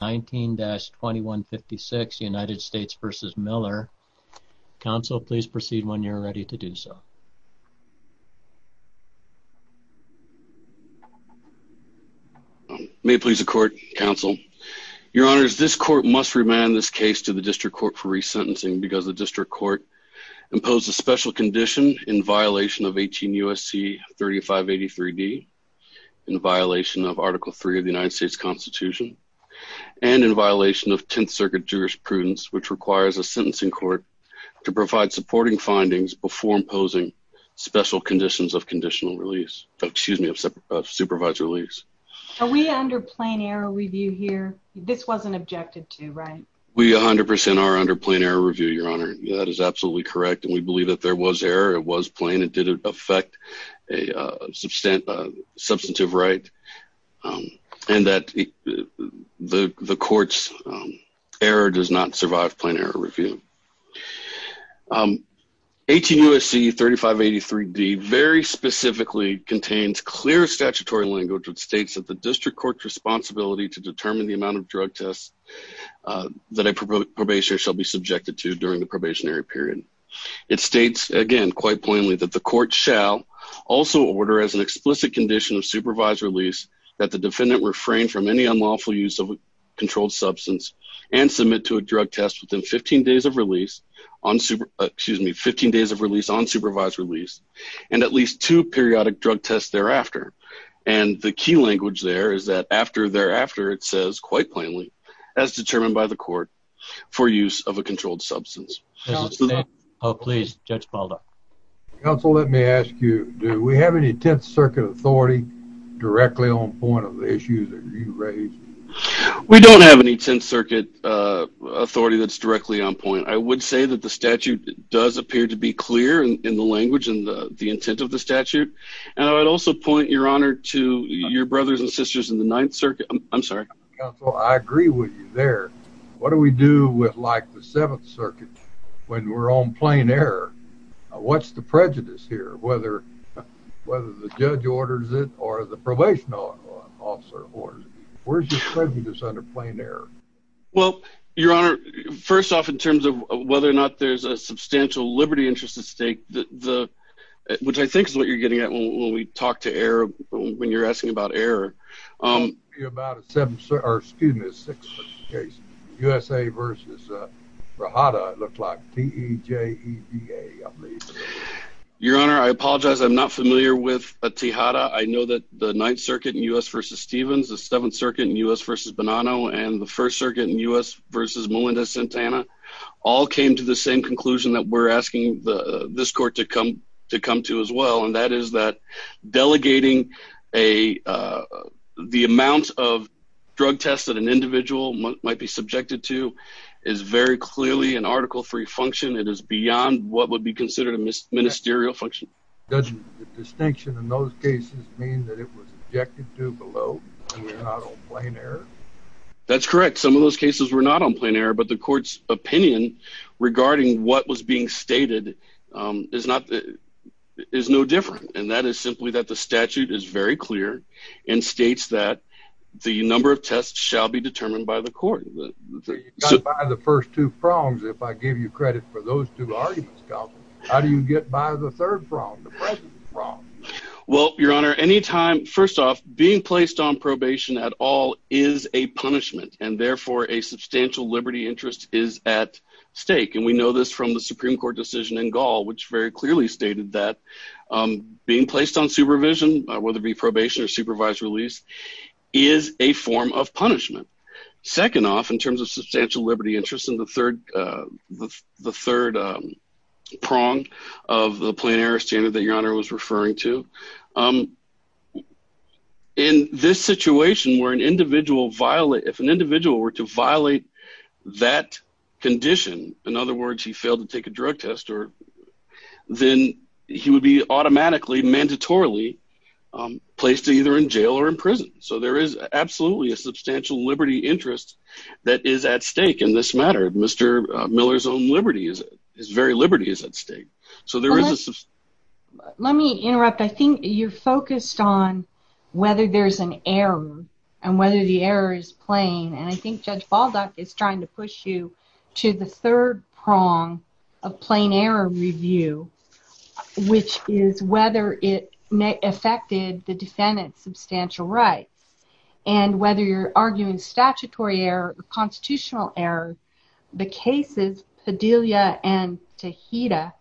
19-2156 United States v. Miller Council, please proceed when you're ready to do so. May it please the Court, Counsel. Your Honors, this Court must remand this case to the District Court for resentencing because the District Court imposed a special condition in violation of 18 U.S.C. 3583d in violation of Article 3 of the United States Constitution and in violation of Tenth Circuit jurisprudence, which requires a sentencing court to provide supporting findings before imposing special conditions of conditional release, excuse me, of supervised release. Are we under plain error review here? This wasn't objected to, right? We 100% are under plain error review, Your Honor. That is absolutely correct, and we believe that there was error. It was plain. It didn't affect a substantive right and that the Court's error does not survive plain error review. 18 U.S.C. 3583d very specifically contains clear statutory language that states that the District Court's responsibility to determine the amount of drug tests that a probationer shall be subjected to during the probationary period. It states, again, quite plainly, that the Court shall also order as an explicit condition of supervised release that the defendant refrain from any unlawful use of a controlled substance and submit to a drug test within 15 days of release on, excuse me, 15 days of release on supervised release and at least two periodic drug tests thereafter. And the key language there is that after thereafter, it says, quite plainly, as determined by the Oh, please, Judge Baldo. Counsel, let me ask you, do we have any Tenth Circuit authority directly on point of the issues that you raised? We don't have any Tenth Circuit authority that's directly on point. I would say that the statute does appear to be clear in the language and the intent of the statute. And I would also point, Your Honor, to your brothers and sisters in the Ninth Circuit. I'm sorry. Counsel, I agree with you there. What do we do with, like, the Seventh Circuit when we're on plain error? What's the prejudice here, whether the judge orders it or the probation officer orders it? Where's your prejudice under plain error? Well, Your Honor, first off, in terms of whether or not there's a substantial liberty interest at stake, which I think is what you're getting at when we talk to error, when you're asking about error. Your Honor, I apologize. I'm not familiar with Tejada. I know that the Ninth Circuit in U.S. v. Stevens, the Seventh Circuit in U.S. v. Bonanno, and the First Circuit in U.S. v. Melinda Santana all came to the same conclusion that we're asking this Delegating the amount of drug tests that an individual might be subjected to is very clearly an article-free function. It is beyond what would be considered a ministerial function. Doesn't the distinction in those cases mean that it was subjected to below and not on plain error? That's correct. Some of those cases were not on plain error, but the Court's opinion regarding what was being stated is no different, and that is simply that the statute is very clear and states that the number of tests shall be determined by the Court. You can't buy the first two prongs if I give you credit for those two arguments, Counselor. How do you get by the third prong, the present prong? Well, Your Honor, any time, first off, being placed on probation at all is a punishment, and therefore a substantial liberty interest is at stake, and we know this from the Supreme Court decision in Gaul, which very clearly stated that being placed on supervision, whether it be probation or supervised release, is a form of punishment. Second off, in terms of substantial liberty interest in the third prong of the plain error standard that Your Honor was to violate that condition, in other words, he failed to take a drug test, then he would be automatically, mandatorily placed either in jail or in prison. So there is absolutely a substantial liberty interest that is at stake in this matter. Mr. Miller's own liberty, his very liberty is at stake. Let me interrupt. I think you're focused on whether there's an error, and whether the judge is trying to push you to the third prong of plain error review, which is whether it affected the defendant's substantial rights, and whether you're arguing statutory error or constitutional error. The cases, Padilla and Tejeda,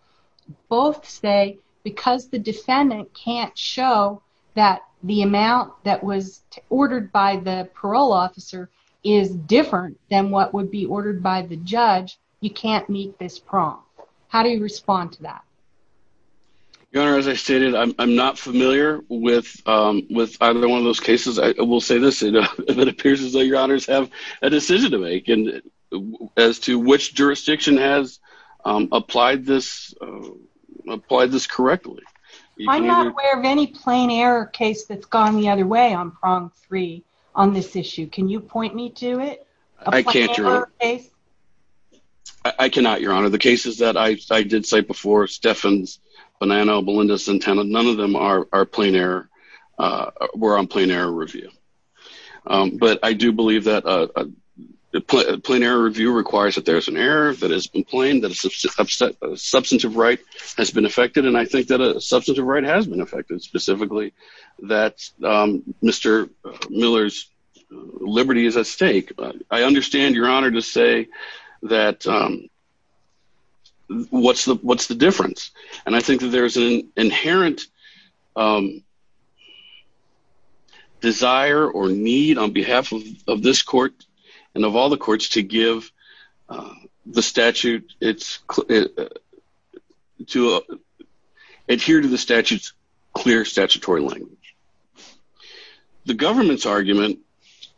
both say because the defendant can't show that the amount that was ordered by the parole officer is different than what would be ordered by the judge, you can't meet this prong. How do you respond to that? Your Honor, as I stated, I'm not familiar with either one of those cases. I will say this, it appears as though Your Honors have a decision to make as to which jurisdiction has applied this correctly. I'm not aware of any error case that's gone the other way on prong three on this issue. Can you point me to it? I cannot, Your Honor. The cases that I did cite before, Steffens, Bonanno, Belinda, Santana, none of them were on plain error review. But I do believe that a plain error review requires that there's an error that has been plain, that a substantive right has been affected, and I think that a substantive right has been affected, specifically that Mr. Miller's liberty is at stake. I understand, Your Honor, to say that what's the difference? And I think that there's an inherent desire or need on behalf of this court and of all the courts to give the statute, to adhere to the statute's clear statutory language. The government's argument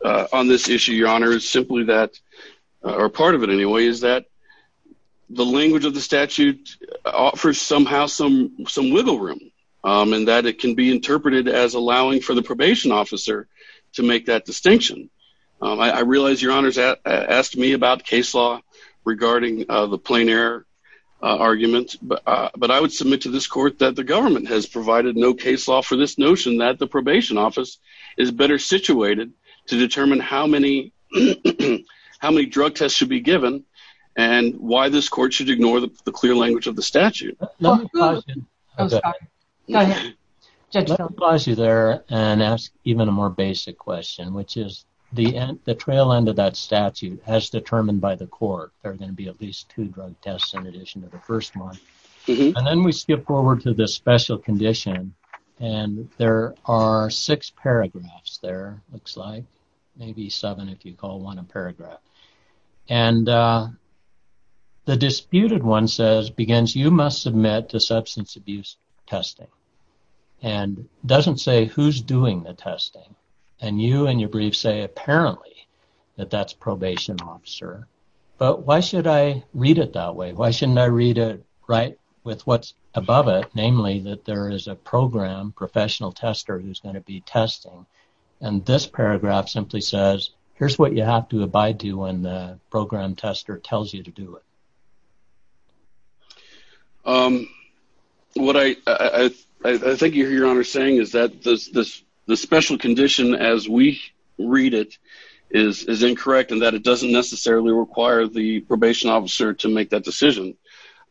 on this issue, Your Honor, is simply that, or part of it anyway, is that the language of the statute offers somehow some wiggle room, and that it can be interpreted as allowing for the probation officer to make that distinction. I realize Your Honor's asked me about case law regarding the plain error argument, but I would submit to this court that the government has provided no case law for this notion that the probation office is better situated to determine how many drug tests should be given and why this court should ignore the clear language of the statute. Let me pause you there and ask even a more basic question, which is the trail end of that statute, as determined by the court, there are going to be at least two drug tests in addition to the first one. And then we skip forward to the special condition, and there are six paragraphs there, looks like, maybe seven if you call one a paragraph. And the disputed one says, you must submit to substance abuse testing. And it doesn't say who's doing the testing. And you and your brief say, apparently, that that's probation officer. But why should I read it that way? Why shouldn't I read it right with what's above it, namely that there is a program professional tester who's going to be testing. And this paragraph simply says, here's what you have to abide to when the program tester tells you to do it. Um, what I think you're saying is that this special condition as we read it, is incorrect, and that it doesn't necessarily require the probation officer to make that decision.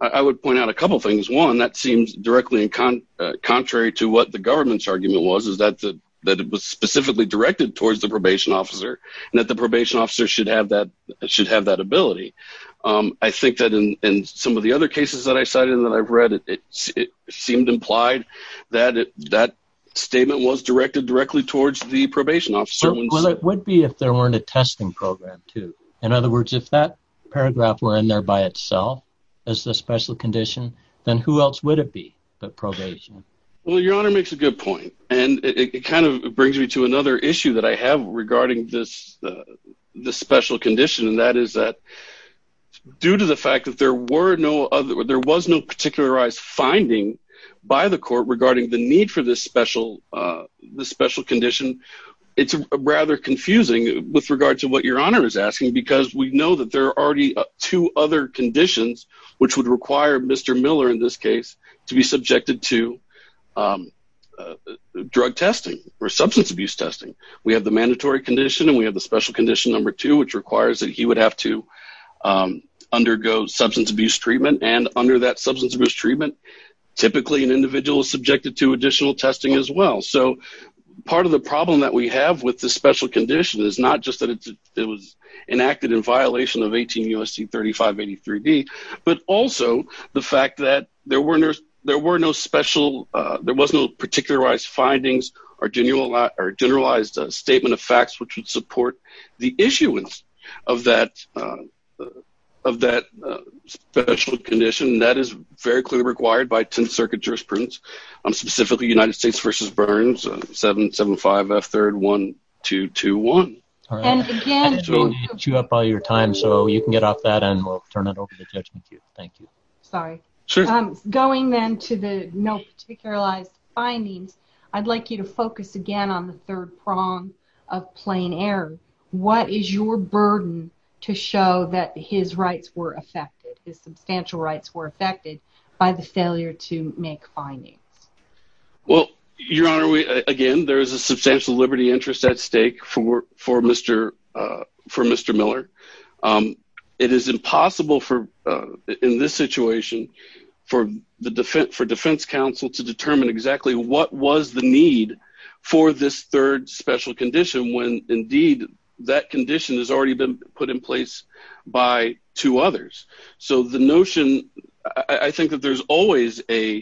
I would point out a couple things. One that seems directly in contrary to what the government's argument was, is that that it was specifically directed towards the probation officer, and that the probation officer should have that should have that ability. I think that in some of the other cases that I cited and that I've read, it seemed implied that that statement was directed directly towards the probation officer. Well, it would be if there weren't a testing program, too. In other words, if that paragraph were in there by itself, as the special condition, then who else would it be but probation? Well, your honor makes a good point. And it kind of brings me to another issue that I have regarding this, the special condition, and that is that due to the fact that there were no other there was no particularized finding by the court regarding the need for this special, the special condition. It's rather confusing with regard to what your honor is asking, because we know that there are already two other conditions, which would require Mr. Miller in this case, to be subjected to drug testing or substance abuse testing. We have the mandatory condition and we have the special condition number two, which requires that he have to undergo substance abuse treatment. And under that substance abuse treatment, typically an individual is subjected to additional testing as well. So part of the problem that we have with the special condition is not just that it was enacted in violation of 18 U.S.C. 3583D, but also the fact that there were no special there was no particularized findings or generalized statement of facts which would support the issuance of that special condition. That is very clearly required by Tenth Circuit jurisprudence, specifically United States v. Burns 775F3-1221. I'm trying to chew up all your time, so you can get off that and we'll turn it over to Judge McHugh. Thank you. Sorry. Sure. Going then to the no particularized findings, I'd like you to focus again on the third prong of plain error. What is your burden to show that his rights were affected, his substantial rights were affected by the failure to make findings? Well, Your Honor, again, there is a substantial liberty interest at stake for Mr. Miller. It is possible for in this situation for the defense counsel to determine exactly what was the need for this third special condition when indeed that condition has already been put in place by two others. So the notion, I think that there's always an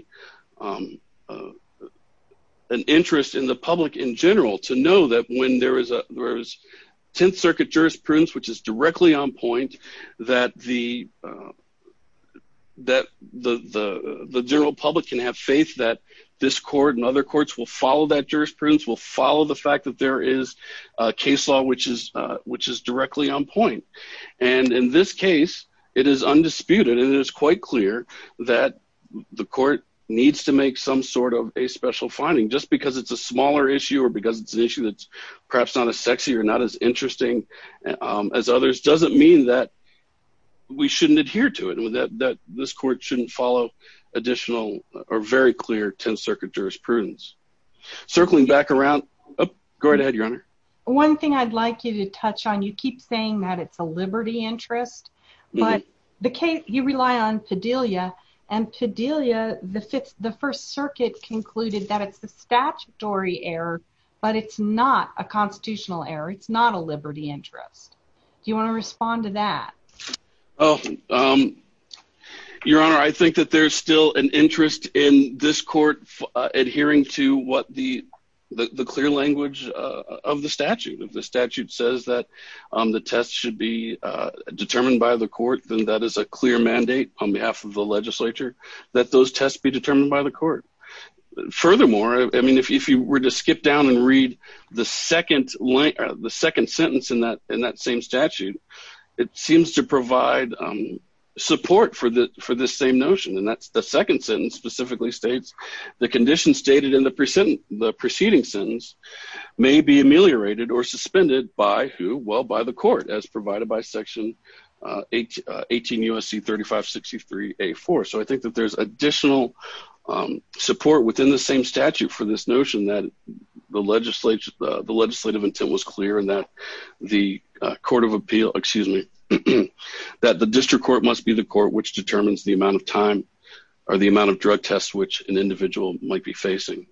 interest in the public in general to that when there is Tenth Circuit jurisprudence, which is directly on point, that the general public can have faith that this court and other courts will follow that jurisprudence, will follow the fact that there is a case law, which is directly on point. And in this case, it is undisputed and it is quite clear that the court needs to make some sort of a special finding just because it's a smaller issue or because it's an issue that's perhaps not as sexy or not as interesting as others doesn't mean that we shouldn't adhere to it, that this court shouldn't follow additional or very clear Tenth Circuit jurisprudence. Circling back around, go right ahead, Your Honor. One thing I'd like you to touch on, you keep saying that it's a liberty interest, but the case, you rely on Padilla and Padilla, the Fifth, the First Circuit concluded that it's the statutory error, but it's not a constitutional error. It's not a liberty interest. Do you want to respond to that? Oh, Your Honor, I think that there's still an interest in this court adhering to what the clear language of the statute. If the statute says that the test should be the court, then that is a clear mandate on behalf of the legislature that those tests be determined by the court. Furthermore, I mean, if you were to skip down and read the second sentence in that same statute, it seems to provide support for this same notion. And that's the second sentence specifically states, the condition stated in the preceding sentence may be ameliorated or suspended by who? Well, by the court as provided by section 18 U.S.C. 3563 A.4. So I think that there's additional support within the same statute for this notion that the legislative intent was clear and that the court of appeal, excuse me, that the district court must be the court which determines the amount of time or the amount of drug tests which an individual might be facing.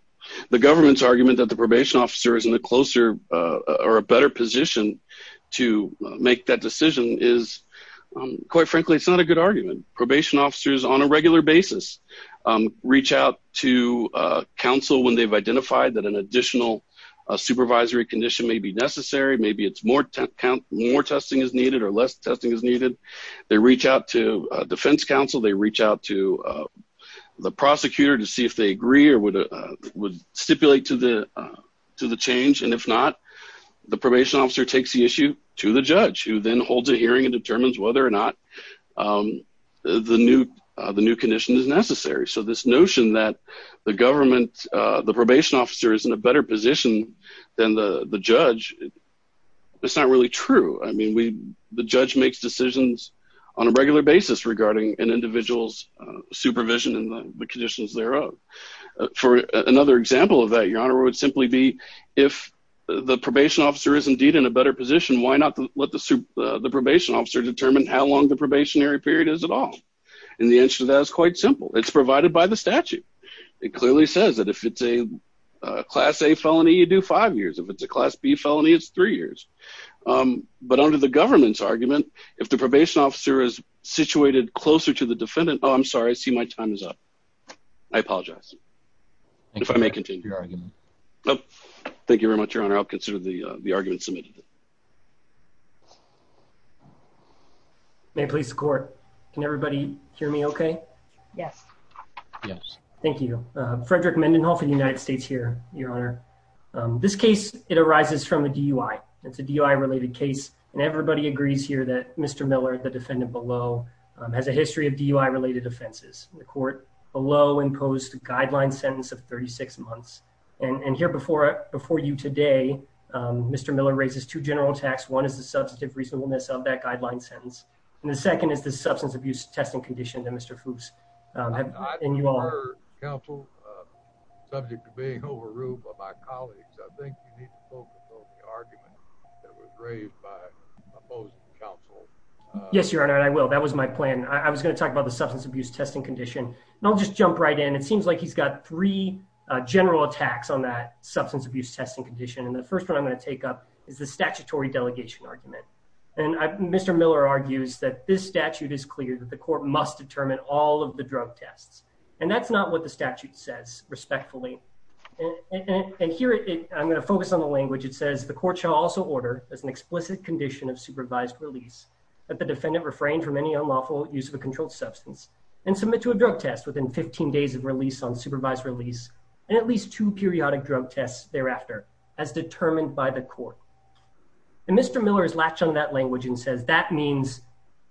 The government's probation officer is in a closer or a better position to make that decision is, quite frankly, it's not a good argument. Probation officers on a regular basis reach out to counsel when they've identified that an additional supervisory condition may be necessary. Maybe it's more testing is needed or less testing is needed. They reach out to defense counsel. They reach out to the prosecutor to see if they agree or would stipulate to the change. And if not, the probation officer takes the issue to the judge who then holds a hearing and determines whether or not the new condition is necessary. So this notion that the government, the probation officer is in a better position than the judge, it's not really true. I mean, the judge makes decisions on a regular basis regarding an individual's supervision and the conditions thereof. For another example of that, your honor, would simply be if the probation officer is indeed in a better position, why not let the probation officer determine how long the probationary period is at all? And the answer to that is quite simple. It's provided by the statute. It clearly says that if it's a class A felony, you do five years. If it's a class B felony, it's three years. But under the government's argument, if the probation officer is situated closer to the defendant, oh, I'm sorry. I see my time is up. I apologize. If I may continue. Thank you very much, your honor. I'll consider the argument submitted. May it please the court. Can everybody hear me okay? Yes. Yes. Thank you. Frederick Mendenhoff in the United States here, your honor. This case, it arises from a DUI. It's a DUI-related case. And everybody agrees here that Mr. Miller, the defendant below, has a history of DUI-related offenses. The court below imposed a guideline sentence of 36 months. And here before you today, Mr. Miller raises two general attacks. One is the substantive reasonableness of that guideline sentence. And the second is the substance abuse testing condition that Mr. Fuchs and you all heard. Counsel, subject to being overruled by my colleagues, I think you need to focus on the argument that was raised by opposing counsel. Yes, your honor. I will. That was my plan. I was going to talk about the substance abuse testing condition, and I'll just jump right in. It seems like he's got three general attacks on that substance abuse testing condition. And the first one I'm going to take up is the statutory delegation argument. And Mr. Miller argues that this statute is clear that the court must determine all of the drug tests. And that's not what the statute says, respectfully. And here I'm going to focus on the language. It says, the court shall also order as an explicit condition of supervised release that the defendant refrain from any unlawful use of a controlled substance and submit to a drug test within 15 days of release on supervised release and at least two periodic drug tests thereafter as determined by the court. And Mr. Miller is latched on that language and says, that means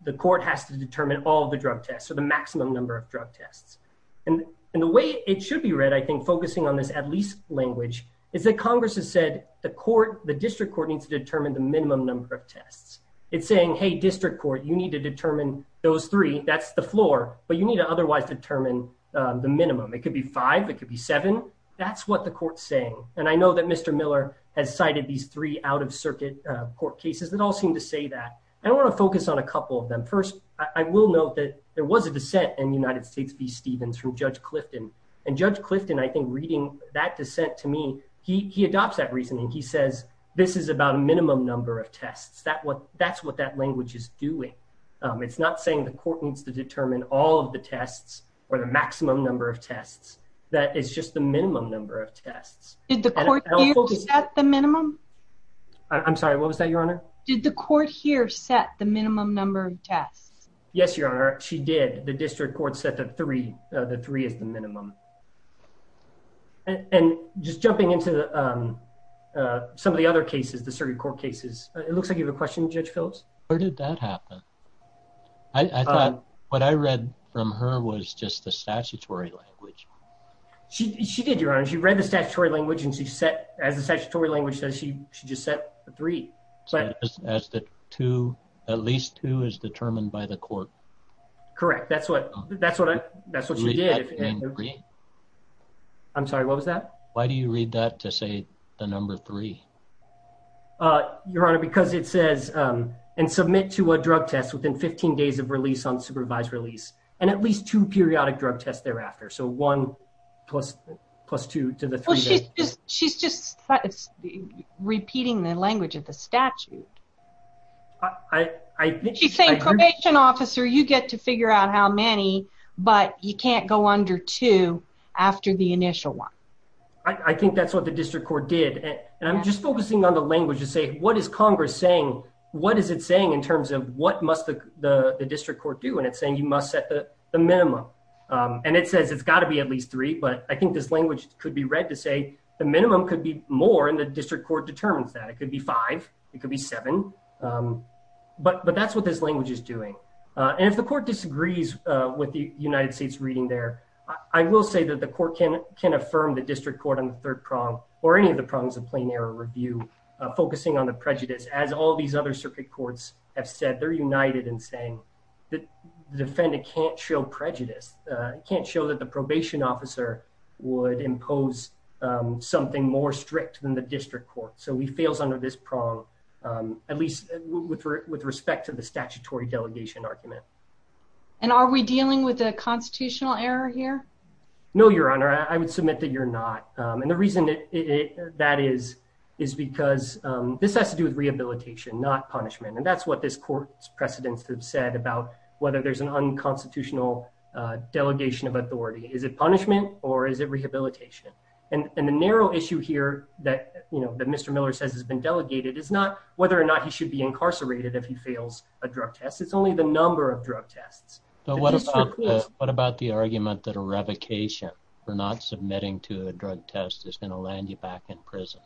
the court has to determine all the drug tests or the maximum number of drug tests. And the way it should be read, I think, focusing on this at least language is that Congress has said the court, the district court needs to determine the minimum number of tests. It's saying, hey, district court, you need to determine those three. That's the floor, but you need to otherwise determine the minimum. It could be five. It could be seven. That's what the court's saying. And I know that Mr. Miller has cited these three out-of-circuit court cases that all seem to say that. I want to focus on a couple of them. First, I will note that there was a dissent in the United States v. Stevens from Judge Clifton. And Judge Clifton, I think, reading that dissent to me, he adopts that reasoning. He says, this is about a minimum number of tests. That's what that language is doing. It's not saying the court needs to determine all of the tests or the maximum number of tests. That is just the minimum number of tests. Did the court here set the minimum? I'm sorry, what was that, Your Honor? Did the court here set the minimum number of tests? Yes, Your Honor, she did. The district court set the three as the minimum. And just jumping into some of the other cases, the circuit court cases, it looks like you have a question, Judge Phillips? Where did that happen? I thought what I read from her was just the statutory language. She did, Your Honor. She read the statutory language and she set, as the statutory language says, she just set the three. As the two, at least two is determined by the court. Correct. That's what she did. I'm sorry, what was that? Why do you read that to say the number three? Your Honor, because it says, and submit to a drug test within 15 days of release on supervised release and at least two periodic drug tests thereafter. So one plus two to the three. Well, she's just repeating the language of the statute. She's saying probation officer, you get to figure out how many, but you can't go under two after the initial one. I think that's what the district court did. And I'm just focusing on the language to say, what is Congress saying? What is it saying in terms of what must the district court do? And it's saying you must set the minimum. And it says it's got to be at least three, but I think this language could be read to say the minimum could be more and the district court determines that. It could be five, it could be seven, but that's what this language is doing. And if the court disagrees with the United States reading there, I will say that the court can affirm the district court on the third prong or any of the prongs of plain error review, focusing on the prejudice. As all these other circuit courts have said, they're united in saying that the defendant can't show prejudice, can't show that the probation officer would impose something more strict than the district court. So he fails under this prong, at least with respect to the statutory delegation argument. And are we dealing with a constitutional error here? No, your honor, I would submit that you're not. And the reason that is, is because this has to do with rehabilitation, not punishment. And that's what this court's precedents have said about whether there's an unconstitutional delegation of authority, is it punishment or is it rehabilitation? And the narrow issue here that Mr. Miller says has been delegated is not whether or not he should be incarcerated if he fails a drug test. It's only the number of drug tests. So what about the argument that a revocation for not submitting to a drug test is going to land you back in prison?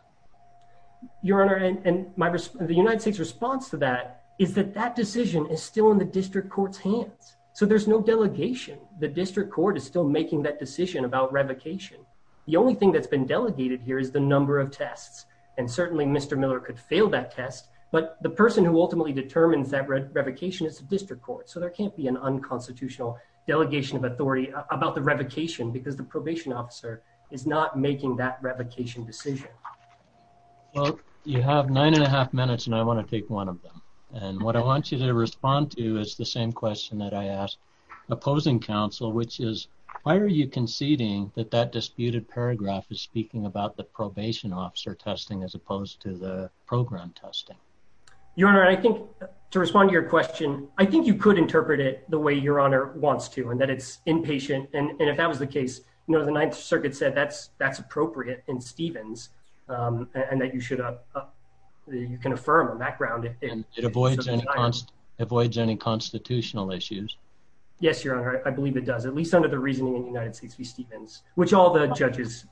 Your honor, and the United States response to that is that that decision is still in the district court's hands. So there's no delegation. The district court is still making that decision about revocation. The only thing that's been delegated here is the number of tests. And certainly Mr. Miller could fail that test. But the person who ultimately determines that revocation is the district court. So there can't be an unconstitutional delegation of authority about the revocation because the probation officer is not making that revocation decision. Well, you have nine and a half minutes and I want to take one of them. And what I want you to respond to is the same question that I asked opposing counsel, which is, why are you conceding that that disputed paragraph is speaking about the probation officer testing as opposed to the program testing? Your honor, I think to respond to your question, I think you could interpret it the way your honor wants to and that it's impatient. And if that was the case, you know, the Ninth Circuit said that's appropriate in Stevens and that you should, you can affirm on that ground. And it avoids any constitutional issues. Yes, your honor. I believe it does, at least under the reasoning in United States v. Stevens, which all the judges.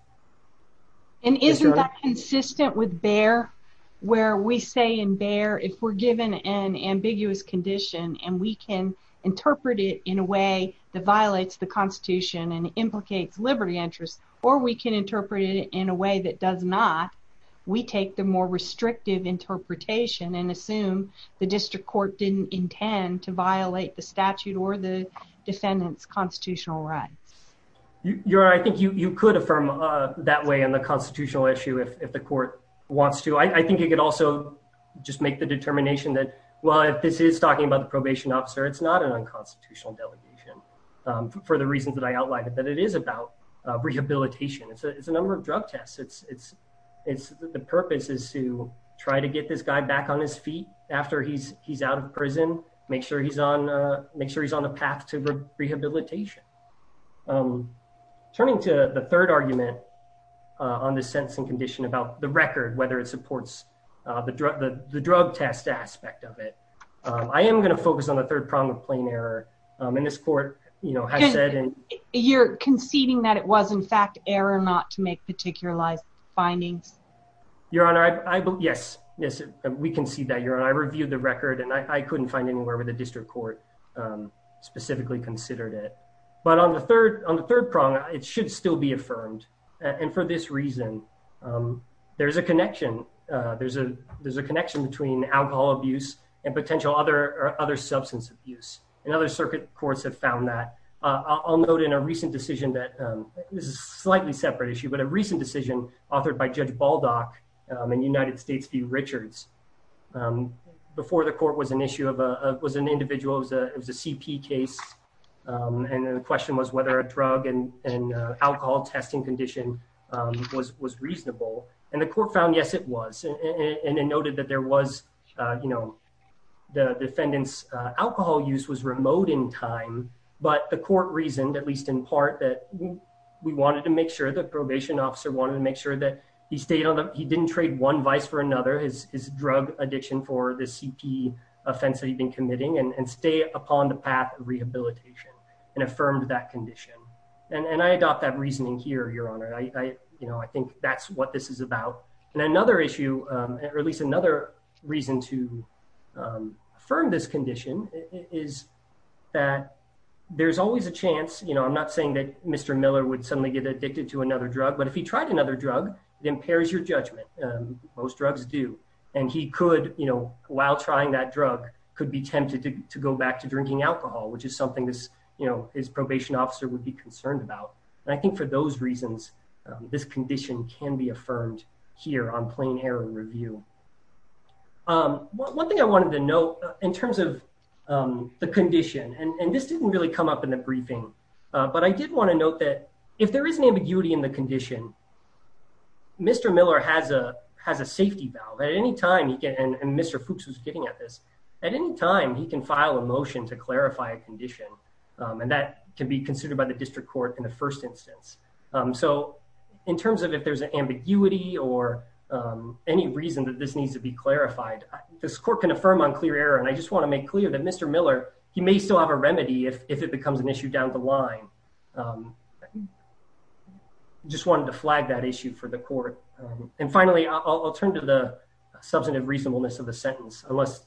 And isn't that consistent with Bayer where we say in Bayer, if we're given an ambiguous condition and we can interpret it in a way that violates the constitution and implicates liberty interests, or we can interpret it in a way that does not, we take the more restrictive interpretation and assume the district court didn't intend to violate the statute or the defendant's constitutional rights. Your honor, I think you could affirm that way on the constitutional issue if the court wants to. I think you could also just make the determination that, well, if this is talking about the probation officer, it's not an unconstitutional delegation for the reasons that I outlined, that it is about rehabilitation. It's a number of drug tests. The purpose is to try to get this guy back on his feet after he's out of prison, make sure he's on a path to rehabilitation. Turning to the third argument on the sentence and condition about the record, whether it supports the drug test aspect of it, I am going to focus on the third problem of plain error. And this court has said- And you're conceding that it was in fact error not to make particular findings? Your honor, yes. We concede that, your honor. I reviewed the record and I couldn't find anywhere where the district court specifically considered it. But on the third prong, it should still be affirmed. And for this reason, there's a connection. There's a connection between alcohol abuse and potential other substance abuse. And other circuit courts have found that. I'll note in a recent decision that- This is a slightly separate issue, but a recent decision authored by Judge Baldock in United States v. Richards. Before the court was an issue of an individual, it was a CP case. And the question was whether a drug and alcohol testing condition was reasonable. And the court found, yes, it was. And it noted that there was, you know, the defendant's alcohol use was remote in time. But the court reasoned, at least in part, that we wanted to make sure, the probation officer wanted to make sure that he stayed on the- He didn't trade one vice for another, his drug addiction for the CP offense that he'd been committing and stay upon the path of rehabilitation, and affirmed that condition. And I adopt that reasoning here, Your Honor. I think that's what this is about. And another issue, or at least another reason to affirm this condition, is that there's always a chance, you know, I'm not saying that Mr. Miller would suddenly get addicted to another drug, but if he tried another drug, it impairs your judgment. Most drugs do. And he could, you know, while trying that drug, could be tempted to go back to drinking alcohol, which is something this, you know, his probation officer would be concerned about. And I think for those reasons, this condition can be affirmed here on plain error review. One thing I wanted to note in terms of the condition, and this didn't really come up in the briefing, but I did want to note that if there is an ambiguity in the condition, Mr. Miller has a safety valve. At any time, and Mr. Fuchs was getting at this, at any time, he can file a motion to clarify a condition. And that can be considered by the district court in the first instance. So in terms of if there's an ambiguity or any reason that this needs to be clarified, this court can affirm on clear error. And I just want to make clear that Mr. Miller, he may still have a remedy if it becomes an issue down the line. I just wanted to flag that issue for the court. And finally, I'll turn to the substantive reasonableness of the sentence, unless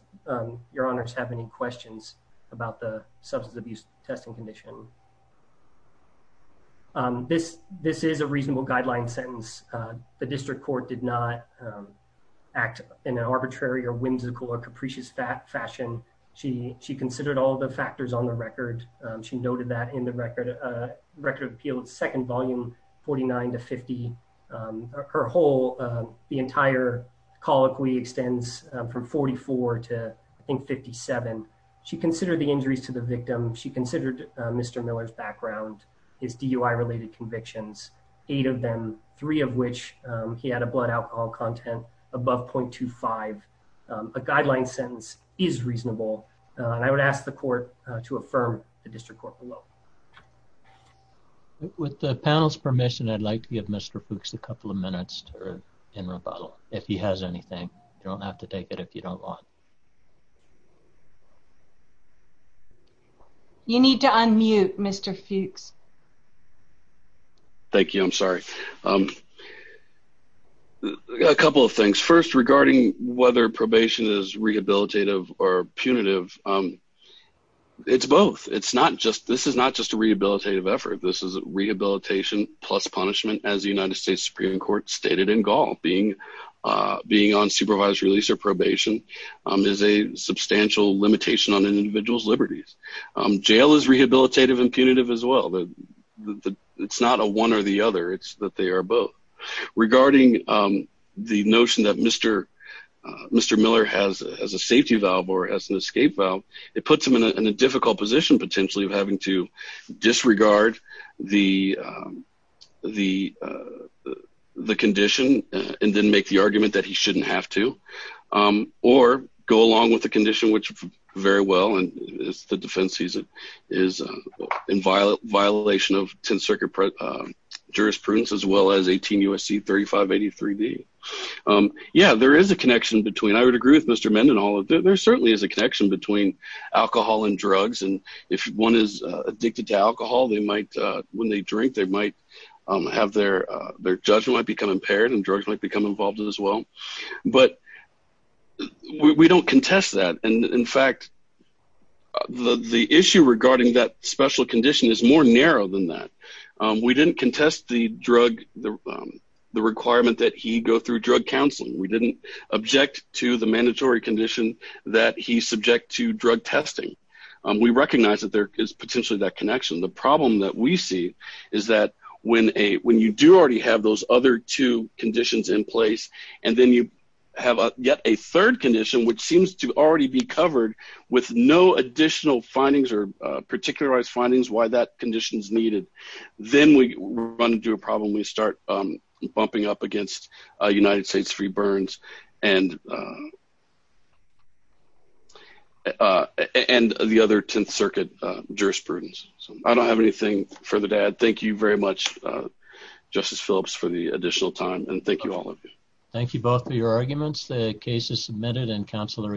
your honors have any questions about the substance abuse testing condition. This is a reasonable guideline sentence. The district court did not act in an arbitrary or whimsical or capricious fashion. She considered all the factors on the record. She noted that in the record of appeals, second volume 49 to 50. Her whole, the entire colloquy extends from 44 to I think 57. She considered the injuries to the victim. She considered Mr. Miller's background, his DUI related convictions, eight of them, three of which he had a blood alcohol content above 0.25. A guideline sentence is reasonable. And I would ask the court to affirm the district court below. With the panel's permission, I'd like to give Mr. Fuchs a couple of minutes in rebuttal. If he has anything, you don't have to take it if you don't want. You need to unmute Mr. Fuchs. Thank you. I'm sorry. A couple of things. First, regarding whether probation is rehabilitative or punitive, it's both. This is not just a rehabilitative effort. This is rehabilitation plus punishment, as the United States Supreme Court stated in Gaul. Being on supervised release or probation is a substantial limitation on an individual's liberties. Jail is rehabilitative and punitive as well. It's not a one or the other. It's that they are both. Regarding the notion that Mr. Miller has a safety valve or has an escape valve, it puts him in a difficult position, potentially, of having to disregard the condition and then make the argument that he shouldn't have to. Or go along with the condition, which very well, and it's the defense sees it, is in violation of 10th Circuit jurisprudence, as well as 18 U.S.C. 3583B. Yeah, there is a connection between. I would agree with Mr. Mendenhall. There certainly is a connection between alcohol and drugs. And if one is addicted to alcohol, when they drink, their judgment might become impaired and drugs might become involved as well. But we don't contest that. And in fact, the issue regarding that special condition is more narrow than that. We didn't contest the drug, the requirement that he go through drug counseling. We didn't object to the mandatory condition that he's subject to drug testing. We recognize that there is potentially that connection. The problem that we see is that when you do already have those other two conditions in place, and then you have yet a third condition, which seems to already be covered with no additional findings or particularized findings why that condition is needed, then we run into a problem. We start bumping up against United States Free Burns and the other Tenth Circuit jurisprudence. I don't have anything further to add. Thank you very much, Justice Phillips, for the additional time. And thank you, all of you. Thank you both for your arguments. The case is submitted and counsel are excused.